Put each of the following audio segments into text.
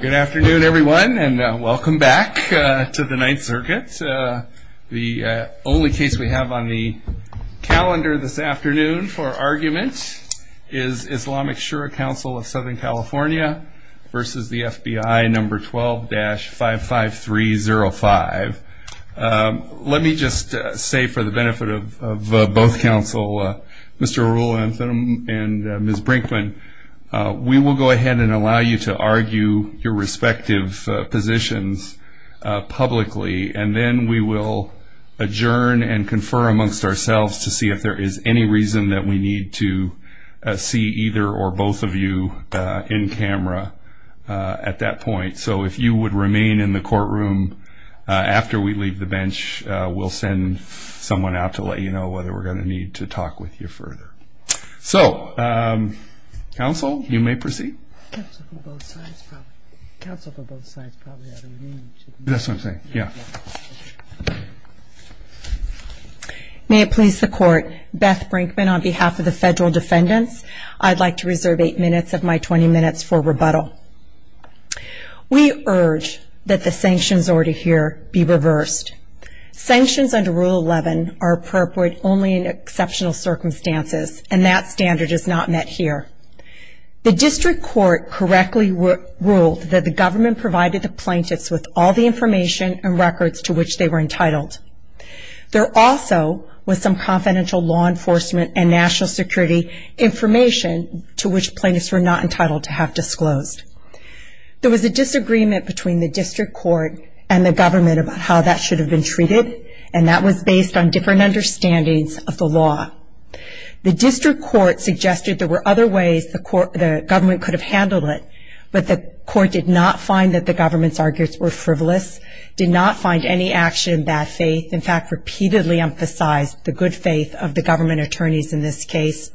Good afternoon everyone and welcome back to the Ninth Circuit. The only case we have on the calendar this afternoon for argument is Islamic Shura Council of Southern California versus the FBI number 12-55305. Let me just say for the benefit of both counsel Mr. Arul and Ms. Brinkman, we will go ahead and argue your respective positions publicly and then we will adjourn and confer amongst ourselves to see if there is any reason that we need to see either or both of you in camera at that point. So if you would remain in the courtroom after we leave the bench we'll send someone out to let you know whether we're going to need to talk with you further. So counsel you may proceed. May it please the court, Beth Brinkman on behalf of the federal defendants, I'd like to reserve eight minutes of my 20 minutes for rebuttal. We urge that the sanctions ordered here be reversed. Sanctions under Rule 11 are appropriate only in exceptional circumstances and that standard is not met here. The district court correctly ruled that the government provided the plaintiffs with all the information and records to which they were entitled. There also was some confidential law enforcement and national security information to which plaintiffs were not entitled to have disclosed. There was a disagreement between the district court and the government about how that should have been treated and that was based on different understandings of the law. The district court suggested there were other ways the government could have handled it, but the court did not find that the government's arguments were frivolous, did not find any action in bad faith, in fact repeatedly emphasized the good faith of the government attorneys in this case,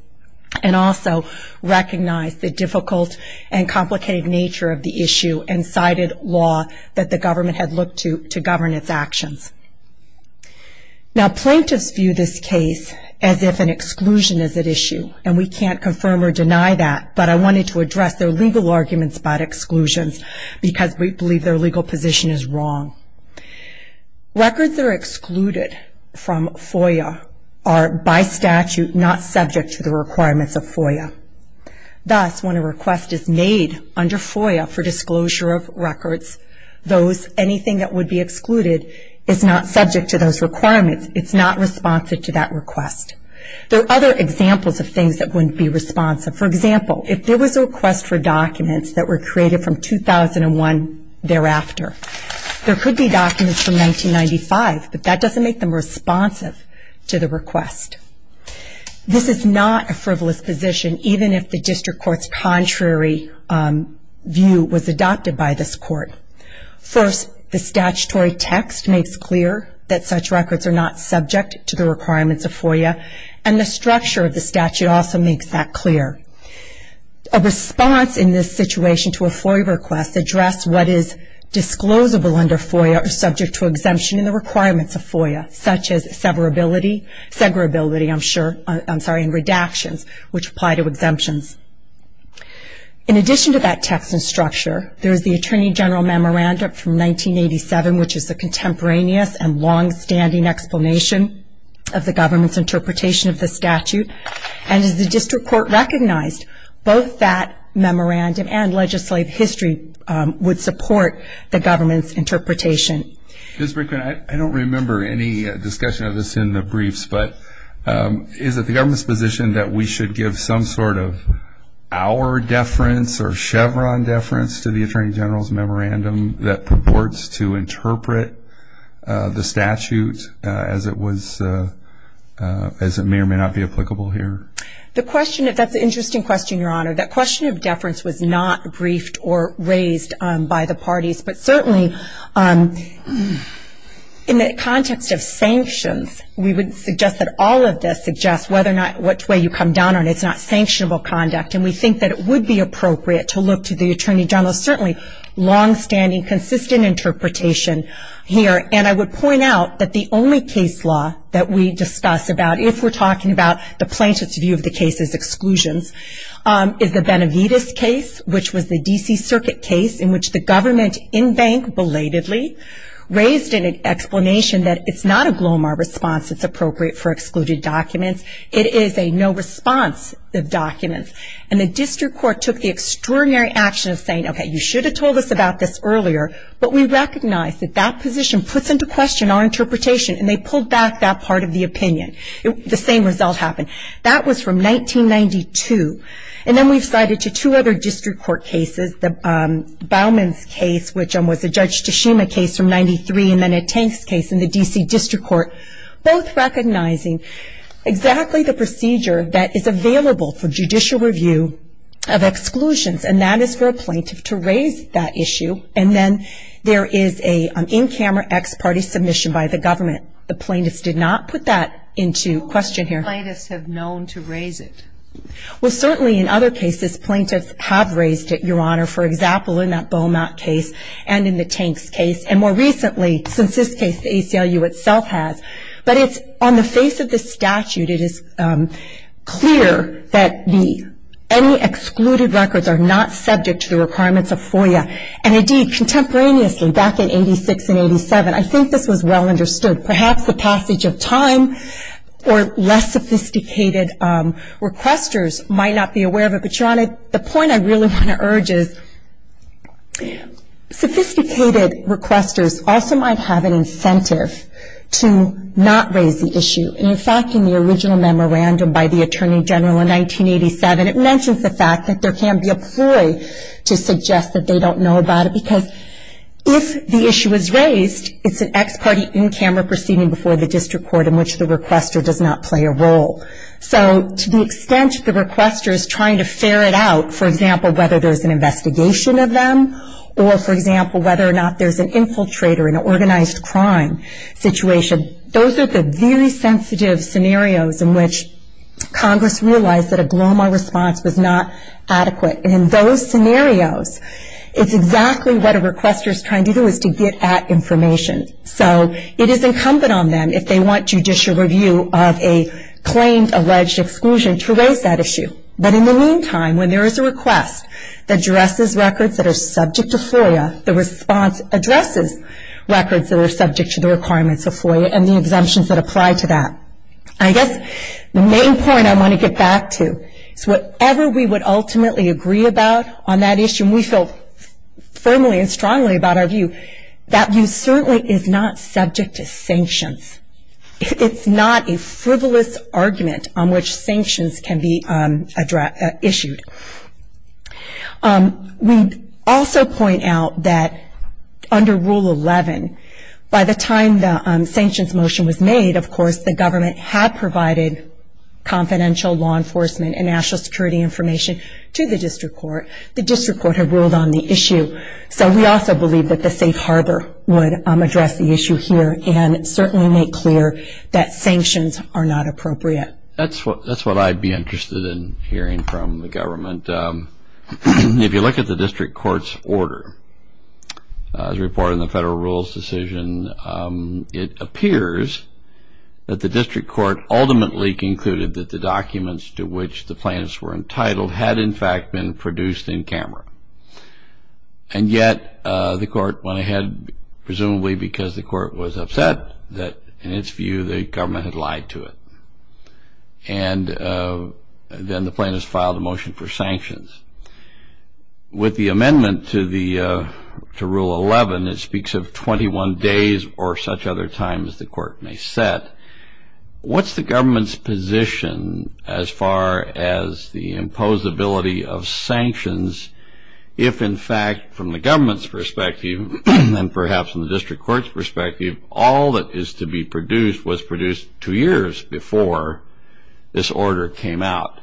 and also recognized the law that the government had looked to to govern its actions. Now plaintiffs view this case as if an exclusion is at issue, and we can't confirm or deny that, but I wanted to address their legal arguments about exclusions because we believe their legal position is wrong. Records that are excluded from FOIA are by statute not subject to the requirements of FOIA. Thus, when a request is made under FOIA for disclosure of records, anything that would be excluded is not subject to those requirements. It's not responsive to that request. There are other examples of things that wouldn't be responsive. For example, if there was a request for documents that were created from 2001 thereafter, there could be documents from 1995, but that doesn't make them responsive to the request. This is not a frivolous position, even if the district court's contrary view was adopted by this court. First, the statutory text makes clear that such records are not subject to the requirements of FOIA, and the structure of the statute also makes that clear. A response in this situation to a FOIA request addressed what is disclosable under FOIA or subject to exemption in the requirements of FOIA, such as severability, I'm sorry, and redactions, which apply to exemptions. In addition to that text and structure, there is the Attorney General Memorandum from 1987, which is a contemporaneous and long-standing explanation of the government's interpretation of the statute. And as the district court recognized, both that memorandum and legislative history would support the government's interpretation. Ms. Brinkman, I don't remember any discussion of this in the briefs, but is it the government's position that we should give some sort of our deference or Chevron deference to the Attorney General's memorandum that purports to interpret the statute as it was, as it may or may not be applicable here? The question, that's an interesting question, Your Honor. That question of deference was not briefed or raised by the parties, but certainly in the context of sanctions, we would suggest that all of this suggests whether or not, which way you come down on it, it's not sanctionable conduct. And we think that it would be appropriate to look to the Attorney General's certainly long-standing, consistent interpretation here. And I would point out that the only case law that we discuss about, if we're talking about the plaintiff's view of the case's exclusions, is the Benavides case, which was the D.C. Circuit case in which the government, in bank belatedly, raised an explanation that it's not a Glomar response that's appropriate for excluded documents. It is a no response of documents. And the District Court took the extraordinary action of saying, okay, you should have told us about this earlier, but we recognize that that position puts into question our interpretation. And they pulled back that part of the opinion. The same result happened. That was from 1992. And then we've cited to two other District Court cases, the Bauman's case, which was a Judge Tashima case from 1993, and then a Tanks case in the D.C. District Court, both recognizing exactly the procedure that is available for judicial review of exclusions. And that is for a plaintiff to raise that issue. And then there is an in- camera ex-party submission by the government. The plaintiffs did not put that into question here. How many plaintiffs have known to raise it? Well, certainly in other cases, plaintiffs have raised it, Your Honor. For recently, since this case, the ACLU itself has. But it's on the face of the statute, it is clear that any excluded records are not subject to the requirements of FOIA. And indeed, contemporaneously, back in 86 and 87, I think this was well understood. Perhaps the passage of time or less sophisticated requesters might not be aware of it. But Your Honor, the point I really want to urge is, sophisticated requesters also might have an incentive to not raise the issue. In fact, in the original memorandum by the Attorney General in 1987, it mentions the fact that there can be a ploy to suggest that they don't know about it. Because if the issue is raised, it's an ex-party in-camera proceeding before the District Court in which the requester does not play a role. For example, whether there's an investigation of them, or for example, whether or not there's an infiltrator in an organized crime situation. Those are the very sensitive scenarios in which Congress realized that a glomar response was not adequate. And in those scenarios, it's exactly what a requester is trying to do, is to get at information. So it is incumbent on them, if they want judicial review of a claimed alleged exclusion, to raise that issue. But in the meantime, when there is a request that addresses records that are subject to FOIA, the response addresses records that are subject to the requirements of FOIA and the exemptions that apply to that. I guess the main point I want to get back to is whatever we would ultimately agree about on that issue, and we feel firmly and strongly about our view, that view certainly is not subject to sanctions. It's not a requirement that sanctions be issued. We also point out that under Rule 11, by the time the sanctions motion was made, of course, the government had provided confidential law enforcement and national security information to the District Court. The District Court had ruled on the issue. So we also believe that the safe harbor would address the issue here and certainly make clear that sanctions are not appropriate. That's what I'd be interested in hearing from the government. If you look at the District Court's order, the report on the federal rules decision, it appears that the District Court ultimately concluded that the documents to which the plaintiffs were entitled had, in fact, been produced in camera. And yet, the court went ahead, presumably because the court was And then the plaintiffs filed a motion for sanctions. With the amendment to Rule 11, it speaks of 21 days or such other times the court may set. What's the government's position as far as the imposability of sanctions if, in fact, from the government's perspective and perhaps in the District Court's perspective, all that is to be produced was produced two years before this order came out?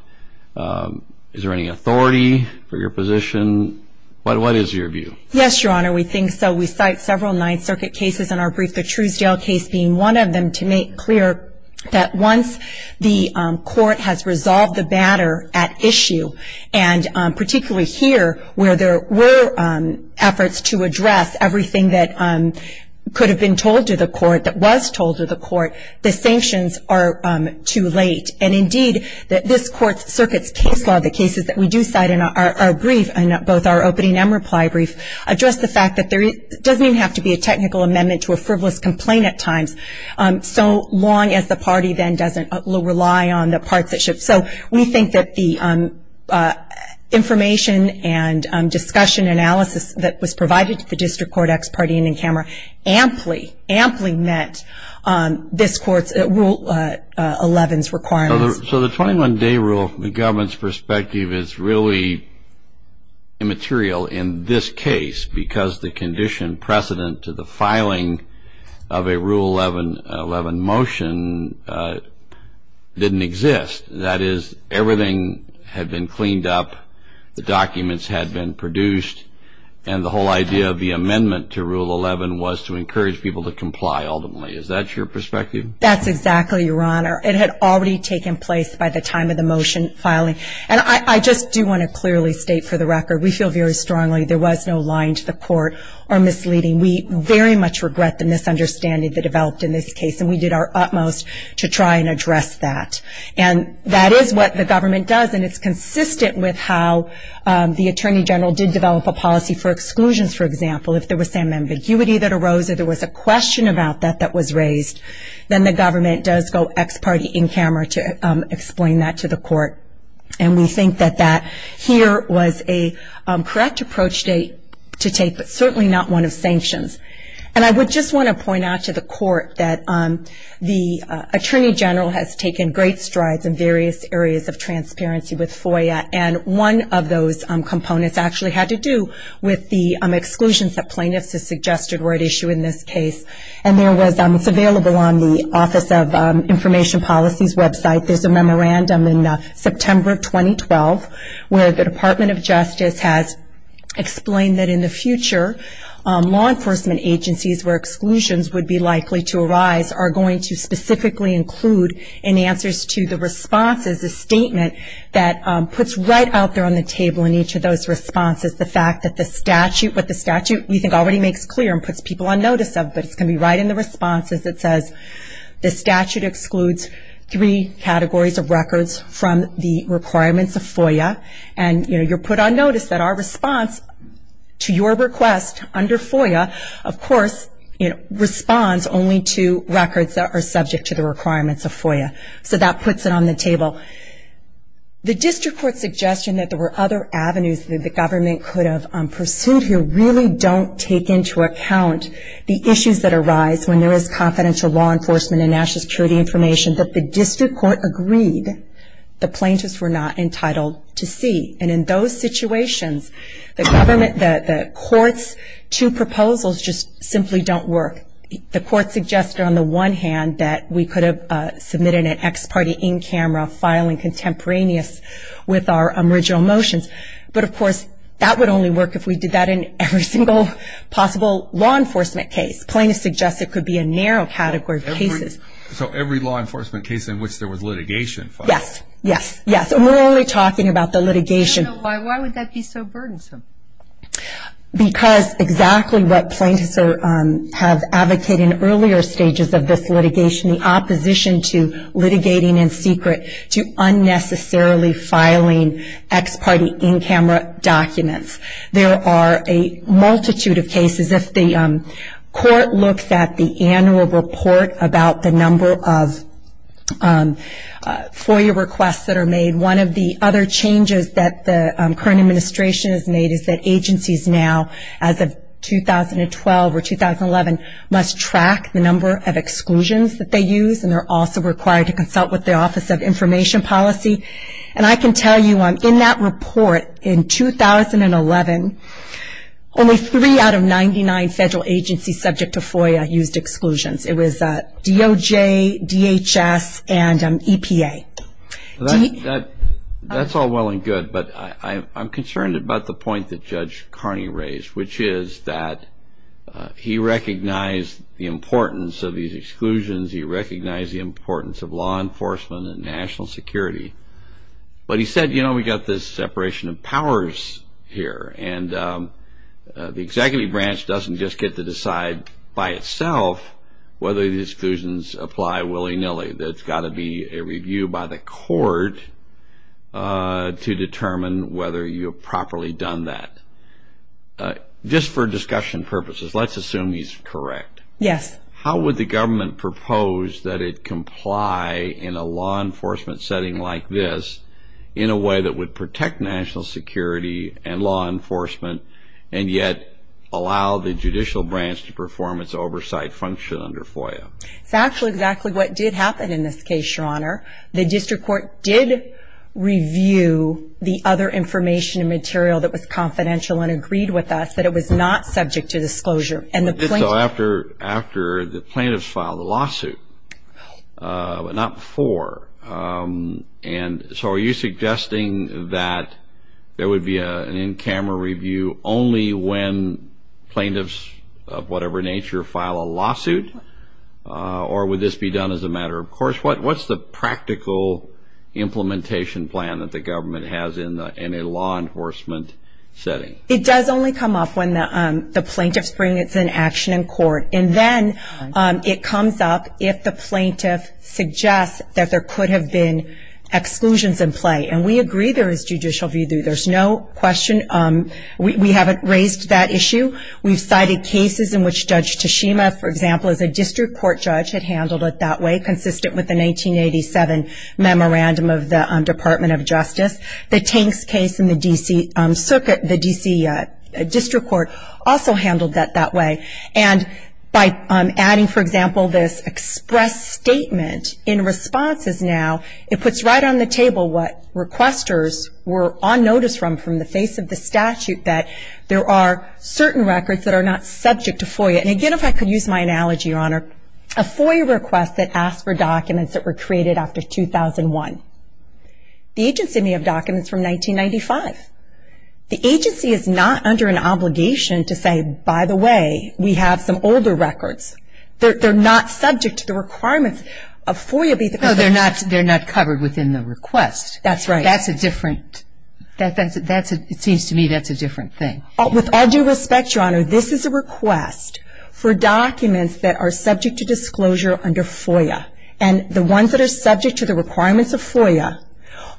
Is there any authority for your position? What is your view? Yes, Your Honor, we think so. We cite several Ninth Circuit cases in our brief, the Truesdale case being one of them, to make clear that once the court has resolved the matter at issue, and particularly here where there were efforts to address everything that could have been told to the court, that was told to the court, the sanctions are too late. And indeed, this court's circuit's case law, the cases that we do cite in our brief, both our opening and reply brief, address the fact that there doesn't even have to be a technical amendment to a frivolous complaint at times, so long as the party then doesn't rely on the parts that should. So we think that the information and discussion analysis that was provided to the District Court, ex parte and in camera, amply, amply met this court's Rule 11's requirements. So the 21-day rule, from the government's perspective, is really immaterial in this case because the condition precedent to the filing of a Rule 11 motion didn't exist. That is, everything had been cleaned up, the documents had been produced, and the whole idea of the amendment to Rule 11 was to encourage people to comply, ultimately. Is that your perspective? That's exactly, Your Honor. It had already taken place by the time of the motion filing. And I just do want to clearly state for the record, we feel very strongly there was no lying to the court or misleading. We very much regret the misunderstanding that developed in this case, and we did our utmost to try and address that. And that is what the government does, and it's consistent with how the Attorney General did develop a policy for exclusions, for example. If there was some ambiguity that arose or there was a question about that that was raised, then the government does go ex parte in camera to explain that to the court. And we think that that here was a correct approach to take, but certainly not one of sanctions. And I would just want to point out to the court that the Attorney General has taken great strides in various areas of transparency with FOIA, and one of those components actually had to do with the exclusions that plaintiffs have suggested were at issue in this case. And it's available on the Office of Information Policy's website. There's a memorandum in September of 2012 where the Department of Justice has explained that in the future, law enforcement agencies where exclusions would be likely to arise are going to specifically include in answers to the responses a statement that puts right out there on the table in each of those responses the fact that the statute, what the statute we think already makes clear and puts people on notice of, but it's going to be right in the responses that says the statute excludes three categories of records from the requirements of FOIA. And you're put on notice that our response to your request under FOIA, of course, responds only to records that are subject to the requirements of FOIA. So that puts it on the table. The district court's suggestion that there were other avenues that the government could have pursued here really don't take into account the issues that arise when there is confidential law enforcement and national security information that the district court agreed the plaintiffs were not entitled to see. And in those situations, the government, the courts, two proposals just simply don't work. The court suggested on the one hand that we could have submitted an ex parte in camera filing contemporaneous with our original motions. But of course, that would only work if we did that in every single possible law enforcement case. Plaintiffs suggest it could be a narrow category of cases. So every law enforcement case in which there was litigation filed? Yes. Yes. Yes. And we're only talking about the litigation. Why would that be so burdensome? Because exactly what plaintiffs have advocated in earlier stages of this litigation, the opposition to litigating in secret, to unnecessarily filing ex parte in camera documents. There are a multitude of cases. If the court looks at the annual report about the number of FOIA requests that are made, one of the other changes that the current administration has made is that agencies now, as of 2012 or 2011, must track the number of exclusions that they use. And they're also required to consult with the Office of Information Policy. And I can tell you, in that report in 2011, only three out of 99 federal agencies subject to FOIA used exclusions. It was DOJ, DHS, and EPA. That's all well and good. But I'm concerned about the point that Judge Carney raised, which is that he recognized the importance of these exclusions. He recognized the importance of law enforcement and national security. But he said, you know, we've got this separation of powers here. And the executive branch doesn't just get to decide by itself whether the FOIA is being reviewed by the court to determine whether you've properly done that. Just for discussion purposes, let's assume he's correct. Yes. How would the government propose that it comply in a law enforcement setting like this in a way that would protect national security and law enforcement and yet allow the judicial branch to perform its oversight function under FOIA? It's actually exactly what did happen in this case, Your Honor. The district court did review the other information and material that was confidential and agreed with us that it was not subject to disclosure. It did so after the plaintiffs filed the lawsuit, but not before. And so are you suggesting that there would be an in-camera review only when plaintiffs of whatever nature file a lawsuit? Or would this be done as a matter of course? What's the practical implementation plan that the government has in a law enforcement setting? It does only come up when the plaintiffs bring it to action in court. And then it comes up if the plaintiff suggests that there could have been exclusions in play. And we agree there is judicial review. There's no question. We haven't raised that issue. We've cited cases in which Judge Tashima, for example, as a district court judge, had handled it that way, consistent with the 1987 memorandum of the Department of Justice. The Tanks case in the D.C. Circuit, the D.C. District Court also handled that that way. And by adding, for example, this express statement in responses now, it puts right on the table what requesters were on notice from, from the face of the There are certain records that are not subject to FOIA. And again, if I could use my analogy, Your Honor, a FOIA request that asked for documents that were created after 2001. The agency may have documents from 1995. The agency is not under an obligation to say, by the way, we have some older records. They're, they're not subject to the requirements of FOIA. No, they're not, they're not covered within the request. That's right. That, that's, that's, it seems to me that's a different thing. With all due respect, Your Honor, this is a request for documents that are subject to disclosure under FOIA. And the ones that are subject to the requirements of FOIA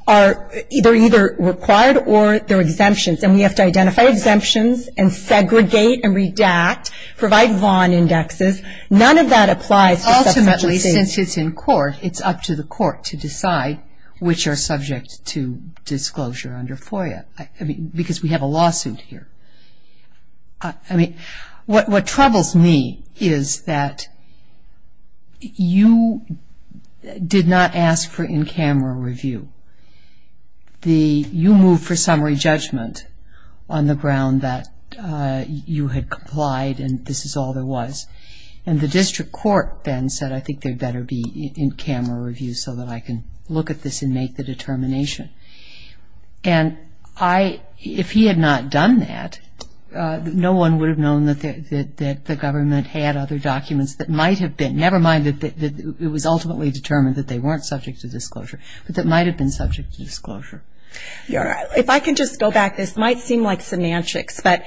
are, they're either required or they're exemptions. And we have to identify exemptions and segregate and redact, provide Vaughn indexes. None of that applies to subsequent cases. Ultimately, since it's in court, it's up to the court to decide which are subject to disclosure under FOIA. I mean, because we have a lawsuit here. I, I mean, what, what troubles me is that you did not ask for in-camera review. The, you moved for summary judgment on the ground that you had complied and this is all there was. And the district court then said, I think there better be in-camera review so that I can look at this and make the determination. And I, if he had not done that, no one would have known that the, that the government had other documents that might have been, never mind that it was ultimately determined that they weren't subject to disclosure, but that might have been subject to disclosure. Your Honor, if I can just go back, this might seem like semantics, but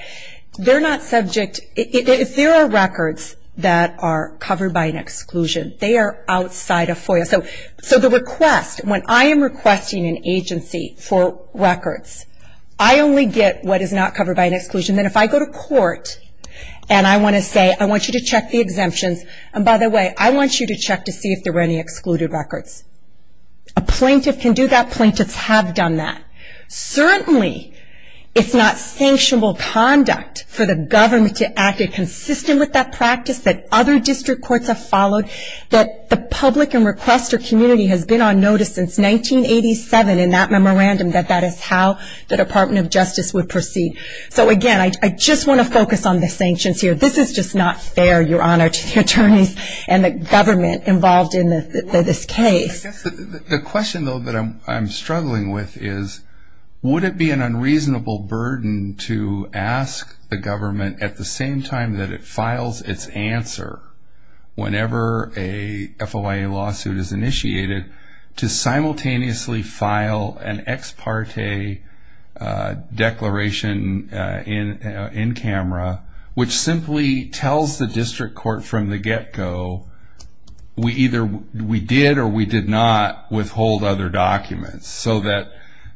they're not subject, if there are records that are covered by an exclusion. So, so the request, when I am requesting an agency for records, I only get what is not covered by an exclusion. Then if I go to court and I want to say, I want you to check the exemptions, and by the way, I want you to check to see if there were any excluded records. A plaintiff can do that. Plaintiffs have done that. Certainly, it's not sanctionable conduct for the government to act consistent with that practice that other district courts have followed, that the public and requester community has been on notice since 1987 in that memorandum that that is how the Department of Justice would proceed. So again, I just want to focus on the sanctions here. This is just not fair, Your Honor, to the attorneys and the government involved in this case. I guess the question, though, that I'm struggling with is, would it be an unreasonable burden to ask the government at the same time that it is a court, whenever a FOIA lawsuit is initiated, to simultaneously file an ex parte declaration in camera, which simply tells the district court from the get-go, we either, we did or we did not withhold other documents so that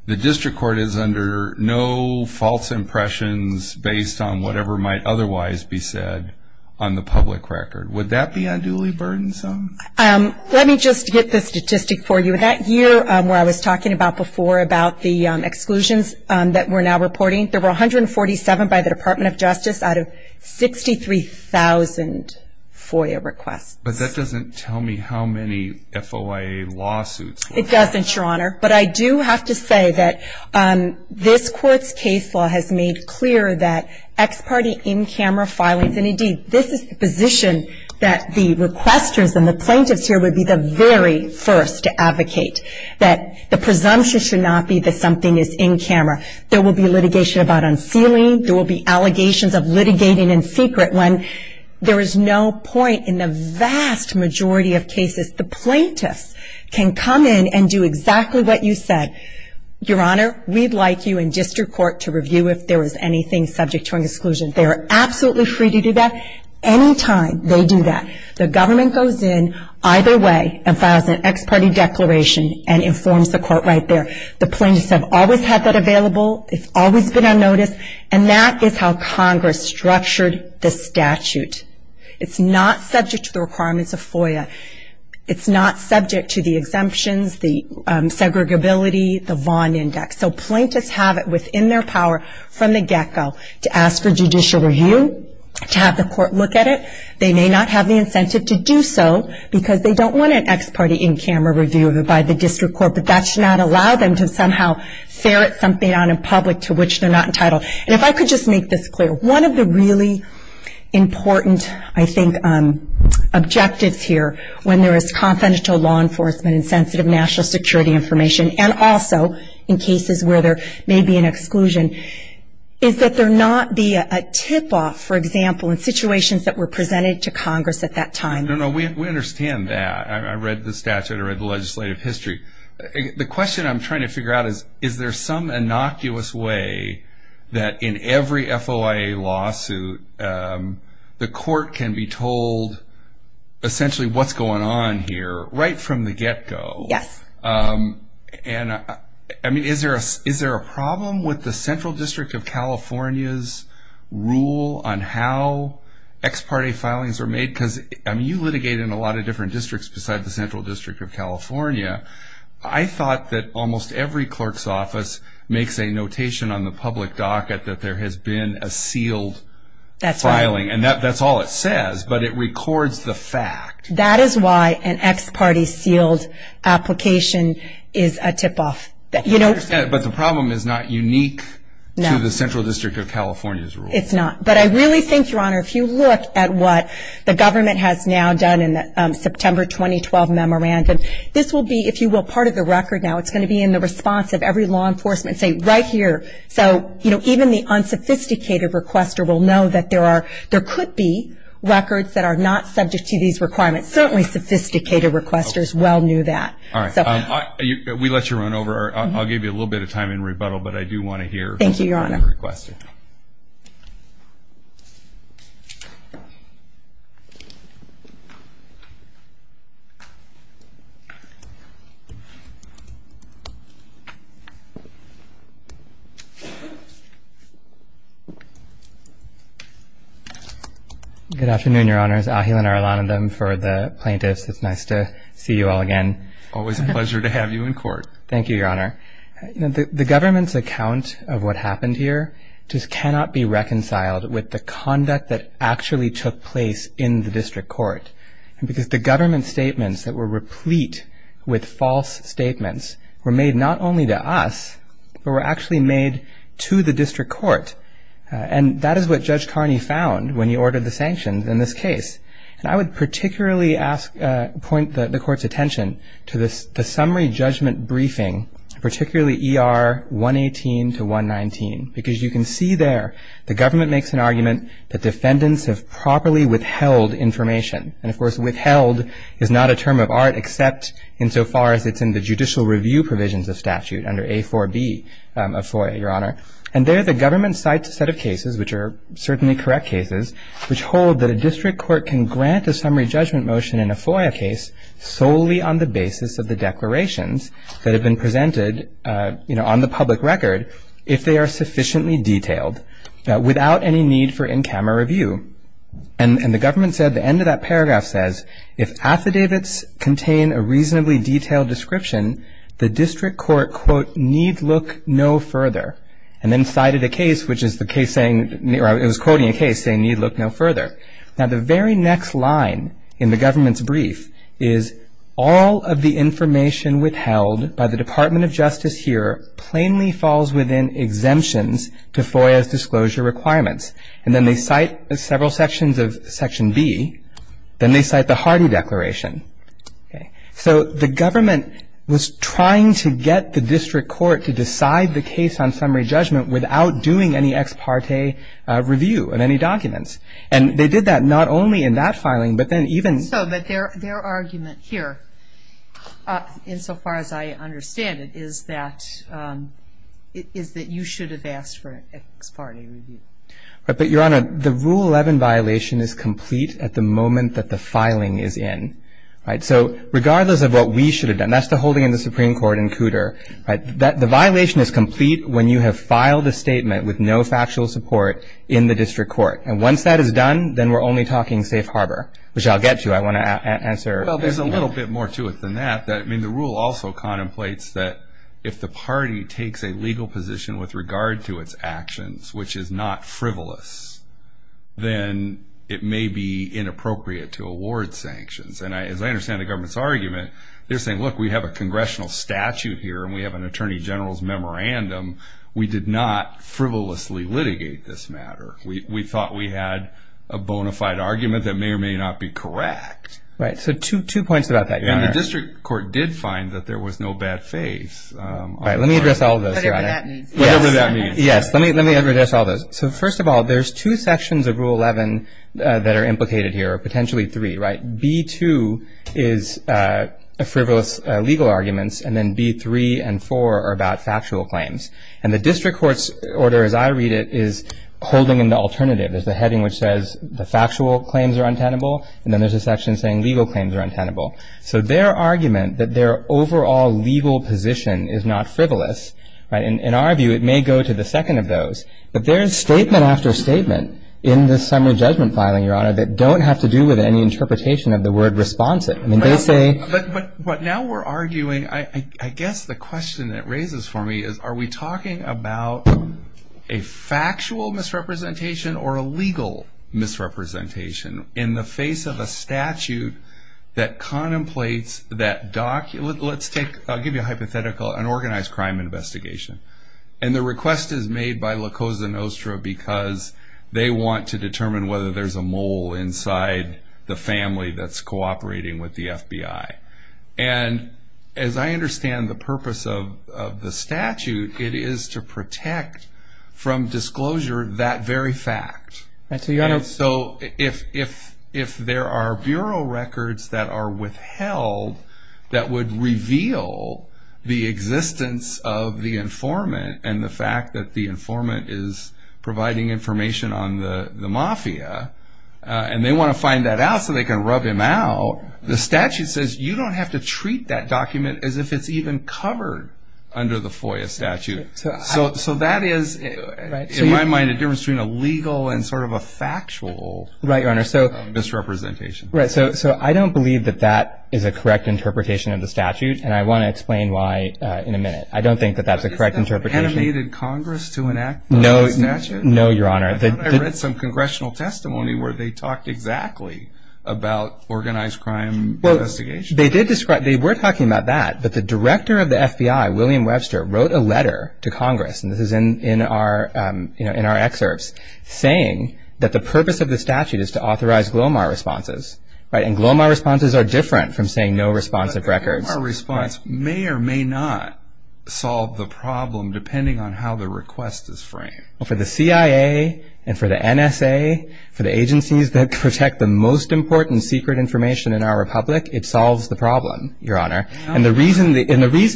the district court is under no false impressions based on whatever might otherwise be said on the public record. Would that be unduly burdensome? Let me just get the statistic for you. That year where I was talking about before about the exclusions that we're now reporting, there were 147 by the Department of Justice out of 63,000 FOIA requests. But that doesn't tell me how many FOIA lawsuits were filed. It doesn't, Your Honor. But I do have to say that this court's case law has made clear that ex parte in camera filings, and indeed, this is the position that the requesters and the plaintiffs here would be the very first to advocate, that the presumption should not be that something is in camera. There will be litigation about unsealing. There will be allegations of litigating in secret when there is no point in the vast majority of cases. The plaintiffs can come in and do exactly what you said. Your Honor, we'd like you and district court to review if there was anything subject to an exclusion. They are absolutely free to do that. Any time they do that, the government goes in either way and files an ex parte declaration and informs the court right there. The plaintiffs have always had that available. It's always been on notice. And that is how Congress structured the statute. It's not subject to the requirements of FOIA. It's not subject to the exemptions, the aggregability, the Vaughn Index. So plaintiffs have it within their power from the get go to ask for judicial review, to have the court look at it. They may not have the incentive to do so because they don't want an ex parte in camera review by the district court. But that should not allow them to somehow ferret something out in public to which they're not entitled. And if I could just make this clear, one of the really important, I think, objectives here when there is confidential law information and also in cases where there may be an exclusion is that there not be a tip off, for example, in situations that were presented to Congress at that time. No, no. We understand that. I read the statute. I read the legislative history. The question I'm trying to figure out is, is there some innocuous way that in every FOIA lawsuit the court can be told essentially what's going on here right from the get go? Yes. And, I mean, is there a problem with the Central District of California's rule on how ex parte filings are made? Because, I mean, you litigate in a lot of different districts besides the Central District of California. I thought that almost every clerk's office makes a notation on the public docket that there has been a sealed filing. And that's all it says, but it records the fact. That is why an ex parte sealed application is a tip off. But the problem is not unique to the Central District of California's rule. It's not. But I really think, Your Honor, if you look at what the government has now done in the September 2012 memorandum, this will be, if you will, part of the record now. It's going to be in the response of every law enforcement. Say, right here. So even the unsophisticated requester will know that there could be records that are not subject to these requirements. Certainly sophisticated requesters well knew that. All right. We let you run over. I'll give you a little bit of time in rebuttal, but I do want to hear from the requester. Thank you, Your Honor. for the plaintiffs. It's nice to see you all again. Always a pleasure to have you in court. Thank you, Your Honor. The government's account of what happened here just cannot be reconciled with the conduct that actually took place in the district court. Because the government statements that were replete with false statements were made not only to us, but were actually made to the district court. And that is what Judge Carney found when he ordered the sanctions in this case. And I would particularly point the court's attention to the summary judgment briefing, particularly ER 118 to 119. Because you can see there the government makes an argument that defendants have properly withheld information. And of course, withheld is not a term of art except insofar as it's in the judicial review provisions of statute under A4B of FOIA, Your Honor. And there the government cites a set of cases which are certainly correct cases, which hold that a district court can grant a summary judgment motion in a FOIA case solely on the basis of the declarations that have been presented on the public record if they are sufficiently detailed, without any need for in-camera review. And the government said, the end of that paragraph says, if affidavits contain a reasonably detailed description, the district court, quote, need look no further. And then cited a case which is the case saying, or it was quoting a case saying, need look no further. Now the very next line in the government's brief is, all of the information withheld by the Department of Justice here plainly falls within exemptions to FOIA's disclosure requirements. And then they cite several sections of Section B. Then they cite the Hardy Declaration. So the government was trying to get the district court to decide the case on summary judgment without doing any ex parte review of any documents. And they did that not only in that filing, but then even So, but their argument here, insofar as I understand it, is that you should have asked for an ex parte review. But, Your Honor, the Rule 11 violation is complete at the moment that the filing is in. So regardless of what we should have done, that's the holding of the Supreme Court in Cooter. The violation is complete when you have filed a statement with no factual support in the district court. And once that is done, then we're only talking safe harbor, which I'll get to. I want to answer. Well, there's a little bit more to it than that. I mean, the rule also contemplates that if the party takes a legal position with regard to its actions, which is not frivolous, then it may be inappropriate to award sanctions. And as I understand the government's argument, they're a congressional statute here, and we have an attorney general's memorandum. We did not frivolously litigate this matter. We thought we had a bona fide argument that may or may not be correct. Right. So two points about that. And the district court did find that there was no bad faith. Right. Let me address all of those. Whatever that means. Yes. Let me let me address all those. So first of all, there's two sections of Rule 11 that are implicated here, or potentially three, right? B2 is a bout frivolous legal arguments, and then B3 and 4 are about factual claims. And the district court's order, as I read it, is holding in the alternative. There's the heading which says the factual claims are untenable, and then there's a section saying legal claims are untenable. So their argument that their overall legal position is not frivolous, right, in our view, it may go to the second of those. But there's statement after statement in the summary judgment filing, Your Honor, that don't have to do with any interpretation of the word responsive. I mean, they say But now we're arguing, I guess the question that raises for me is, are we talking about a factual misrepresentation or a legal misrepresentation in the face of a statute that contemplates that document? Let's take, I'll give you a hypothetical, an organized crime investigation. And the request is made by La Cosa Nostra because they want to determine whether there's a mole inside the family that's cooperating with the FBI. And as I understand the purpose of the statute, it is to protect from disclosure that very fact. And so, Your Honor And so, if there are bureau records that are withheld that would reveal the existence of the informant and the fact that the informant is providing information on the mafia, and they want to find that out so they can rub him out, the statute says you don't have to treat that document as if it's even covered under the FOIA statute. So that is, in my mind, a difference between a legal and sort of a factual misrepresentation. Right, Your Honor. So I don't believe that that is a correct interpretation of the statute, and I want to explain why in a minute. I don't think that that's a correct interpretation. They animated Congress to enact the statute? No, Your Honor. I read some congressional testimony where they talked exactly about organized crime investigation. They did describe, they were talking about that, but the director of the FBI, William Webster, wrote a letter to Congress, and this is in our excerpts, saying that the purpose of the statute is to authorize GLOMAR responses, right? And GLOMAR responses are different from saying no responsive records. A GLOMAR response may or may not solve the problem, depending on how the request is framed. Well, for the CIA and for the NSA, for the agencies that protect the most important secret information in our republic, it solves the problem, Your Honor. And the reason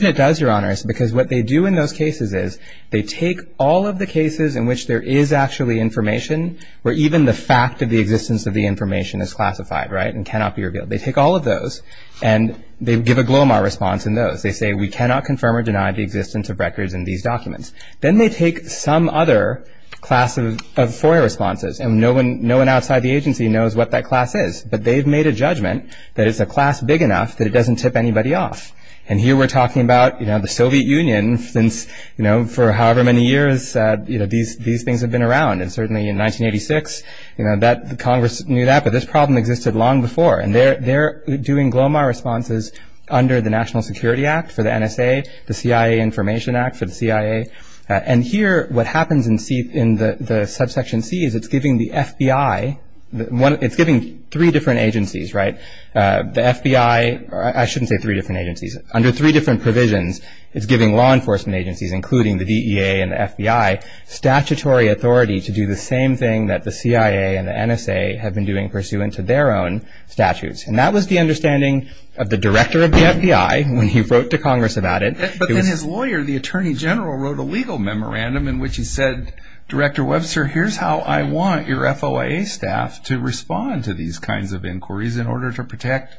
it does, Your Honor, is because what they do in those cases is they take all of the cases in which there is actually information, where even the fact of the existence of the information is classified, right, and cannot be revealed. They take all of those, and they give a GLOMAR response in those. They say, we cannot confirm or deny the existence of records in these documents. Then they take some other class of FOIA responses, and no one outside the agency knows what that class is, but they've made a judgment that it's a class big enough that it doesn't tip anybody off. And here we're talking about, you know, the Soviet Union since, you know, for however many years, you know, these things have been around. And certainly in 1986, you know, that Congress knew that, but this problem existed long before, and they're doing GLOMAR responses under the National Security Act for the NSA, the CIA Information Act for the CIA. And here what happens in the subsection C is it's giving the FBI, it's giving three different agencies, right, the FBI, I shouldn't say three different agencies, under three different provisions, it's giving law enforcement agencies, including the DEA and the FBI, statutory authority to do the same thing that the CIA and the NSA have been doing pursuant to their own statutes. And that was the understanding of the director of the FBI when he wrote to Congress about it. But then his lawyer, the attorney general, wrote a legal memorandum in which he said, Director Webster, here's how I want your FOIA staff to respond to these kinds of inquiries in order to protect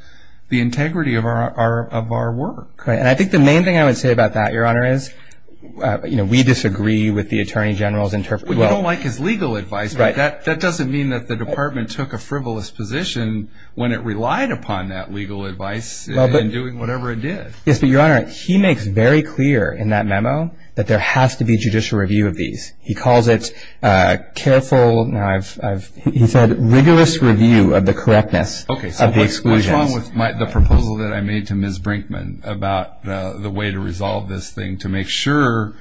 the integrity of our work. Right. And I think the main thing I would say about that, Your Honor, is, you know, we disagree with the attorney general's interpretation. We don't like his legal advice, but that doesn't mean that the department took a frivolous position when it relied upon that legal advice in doing whatever it did. Yes, but Your Honor, he makes very clear in that memo that there has to be judicial review of these. He calls it careful, now I've, he said, rigorous review of the correctness of the exclusions. Okay, so what's wrong with the proposal that I made to Ms. Brinkman about the way to resolve this thing, to make sure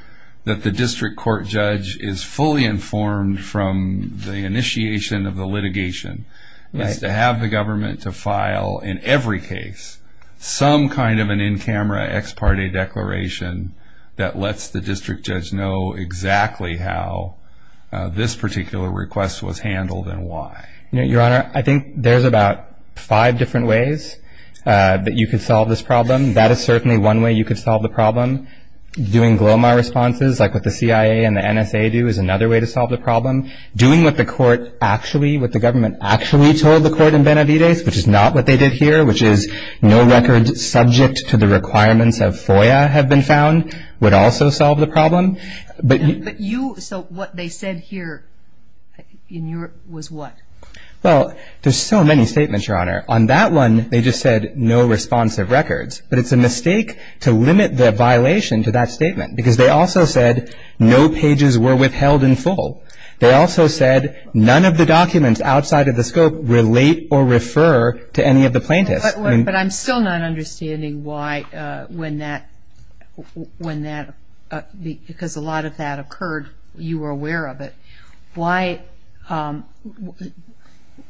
that the district court judge is fully informed from the initiation of the litigation, is to have the government to file, in every case, some kind of an in-camera ex parte declaration that lets the district judge know exactly how this particular request was handled and why. Your Honor, I think there's about five different ways that you could solve this problem. That is certainly one way you could solve the problem. Doing GLOMAR responses, like what the CIA and the NSA do, is another way to solve the problem. Doing what the court actually, what the government actually told the court in Benavides, which is not what they did here, which is no records subject to the requirements of FOIA have been found, would also solve the problem. But you, so what they said here, in your, was what? Well, there's so many statements, Your Honor. On that one, they just said, no responsive records. But it's a mistake to limit the violation to that statement. Because they also said, no pages were withheld in full. They also said, none of the documents outside of the scope relate or refer to any of the plaintiffs. But I'm still not understanding why, when that, when that, because a lot of that occurred, you were aware of it. Why,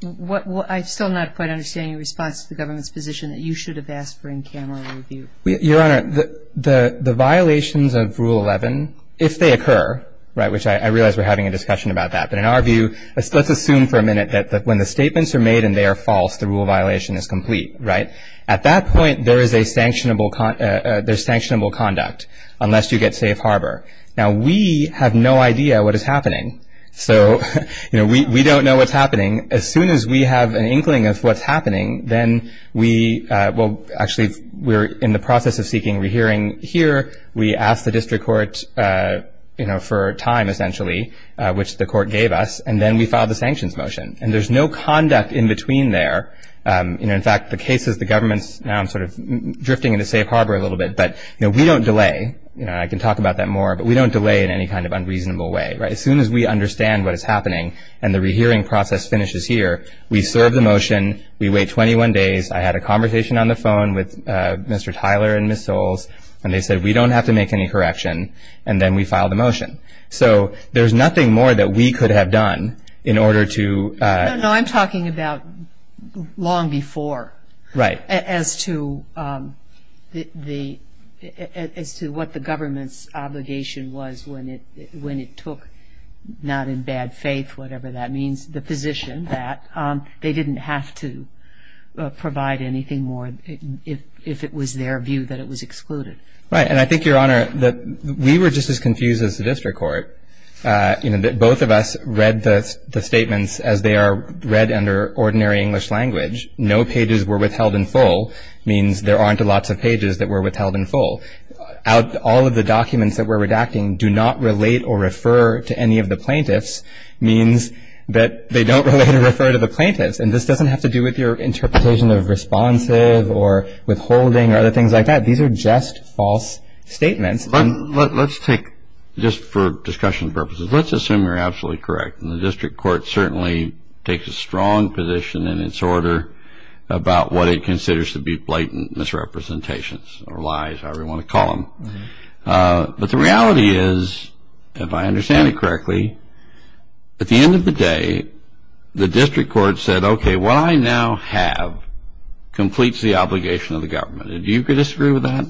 what, I still not quite understand your response to the government's position that you should have asked for in-camera review. Your Honor, the violations of Rule 11, if they occur, right, which I realize we're having a discussion about that. But in our view, let's assume for a minute that when the statements are made and they are false, the rule violation is complete, right? At that point, there is a sanctionable, there's sanctionable conduct, unless you get safe harbor. Now, we have no idea what is happening. So, you know, we, we don't know what's happening. As soon as we have an inkling of what's happening, then we, well, actually, we're in the process of seeking re-hearing here. We ask the district court, you know, for time, essentially, which the court gave us. And then we file the sanctions motion. And there's no conduct in between there. You know, in fact, the cases, the government's now sort of drifting into safe harbor a little bit. But, you know, we don't delay. You know, I can talk about that more, but we don't delay in any kind of unreasonable way, right? As soon as we understand what is happening and the re-hearing process finishes here, we serve the motion, we wait 21 days. I had a conversation on the phone with Mr. Tyler and Ms. Soles, and they said, we don't have to make any correction. And then we file the motion. So, there's nothing more that we could have done in order to. No, I'm talking about long before. Right. As to what the government's obligation was when it took, not in bad faith, whatever that means, the position that they didn't have to provide anything more if it was their view that it was excluded. Right, and I think, Your Honor, that we were just as confused as the district court. You know, both of us read the statements as they are read under ordinary English language. No pages were withheld in full, means there aren't lots of pages that were withheld in full. Out all of the documents that we're redacting do not relate or refer to any of the plaintiffs, means that they don't really refer to the plaintiffs. And this doesn't have to do with your interpretation of responsive or withholding or other things like that. These are just false statements. Let's take, just for discussion purposes, let's assume you're absolutely correct. And the district court certainly takes a strong position in its order about what it considers to be blatant misrepresentations or lies, however you want to call them. But the reality is, if I understand it correctly, at the end of the day, the district court said, okay, what I now have completes the obligation of the government. And do you disagree with that?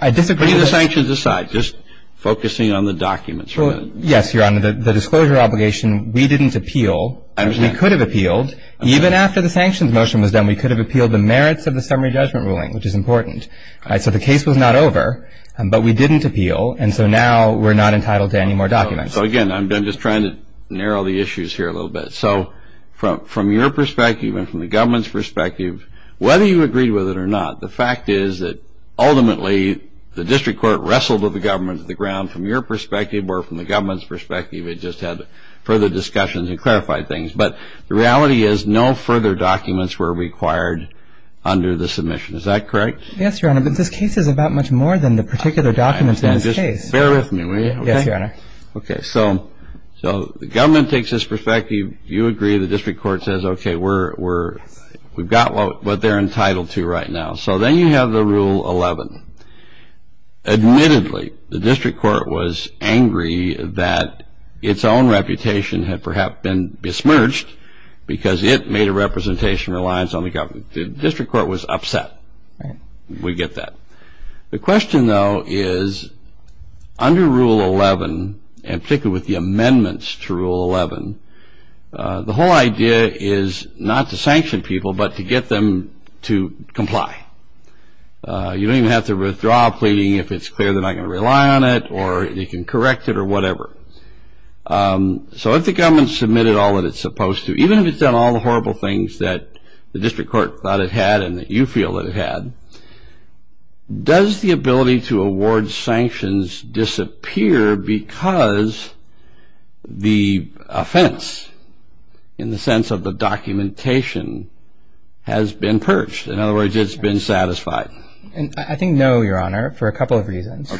I disagree. Putting the sanctions aside, just focusing on the documents. Yes, Your Honor, the disclosure obligation, we didn't appeal. I understand. We could have appealed. Even after the sanctions motion was done, we could have appealed the merits of the summary judgment ruling, which is important. So the case was not over, but we didn't appeal, and so now we're not entitled to any more documents. So again, I'm just trying to narrow the issues here a little bit. So from your perspective and from the government's perspective, whether you agreed with it or not, the fact is that ultimately, the district court wrestled with the government of the ground from your perspective or from the government's perspective. It just had further discussions and clarified things. But the reality is, no further documents were required under the submission. Is that correct? Yes, Your Honor, but this case is about much more than the particular documents in this case. Bear with me, will you? Yes, Your Honor. Okay, so the government takes this perspective. You agree. The district court says, okay, we've got what they're entitled to right now. So then you have the Rule 11. Admittedly, the district court was angry that its own reputation had perhaps been besmirched because it made a representation reliance on the government. The district court was upset. We get that. The question, though, is under Rule 11, and particularly with the amendments to Rule 11, the whole idea is not to sanction people, but to get them to comply. You don't even have to withdraw a pleading if it's clear they're not going to rely on it or they can correct it or whatever. So if the government submitted all that it's supposed to, even if it's done all the horrible things that the district court thought it had and that you feel that it had, does the ability to award sanctions disappear because the offense, in the sense of the documentation, has been perched? In other words, it's been satisfied? I think no, Your Honor, for a couple of reasons.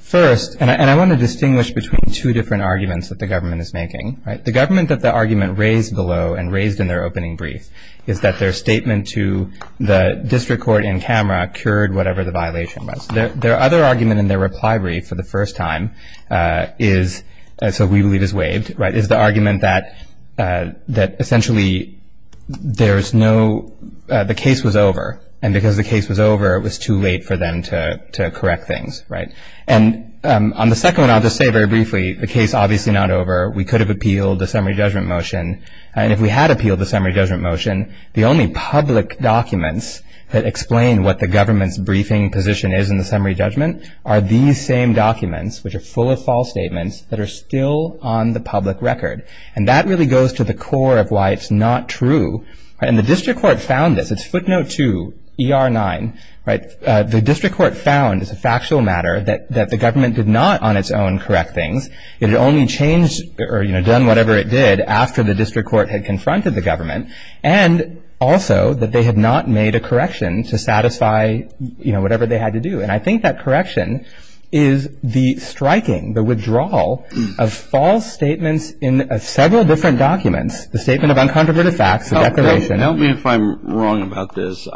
First, and I want to distinguish between two different arguments that the government is making. The government that the argument raised below and raised in their opening brief is that their statement to the district court in camera cured whatever the violation was. Their other argument in their reply brief for the first time is, so we believe is waived, is the argument that essentially the case was over and because the case was over it was too late for them to correct things. And on the second one, I'll just say very briefly, the case is obviously not over. We could have appealed the summary judgment motion. And if we had appealed the summary judgment motion, the only public documents that explain what the government's briefing position is in the summary judgment are these same documents, which are full of false statements, that are still on the public record. And that really goes to the core of why it's not true. And the district court found this. It's footnote two, ER9, the district court found as a factual matter that the government did not on its own correct things. It had only changed or done whatever it did after the district court had confronted the government and also that they had not made a correction to satisfy whatever they had to do. And I think that correction is the striking, the withdrawal of false statements in several different documents, the statement of uncontroverted facts, the declaration. Help me if I'm wrong about this.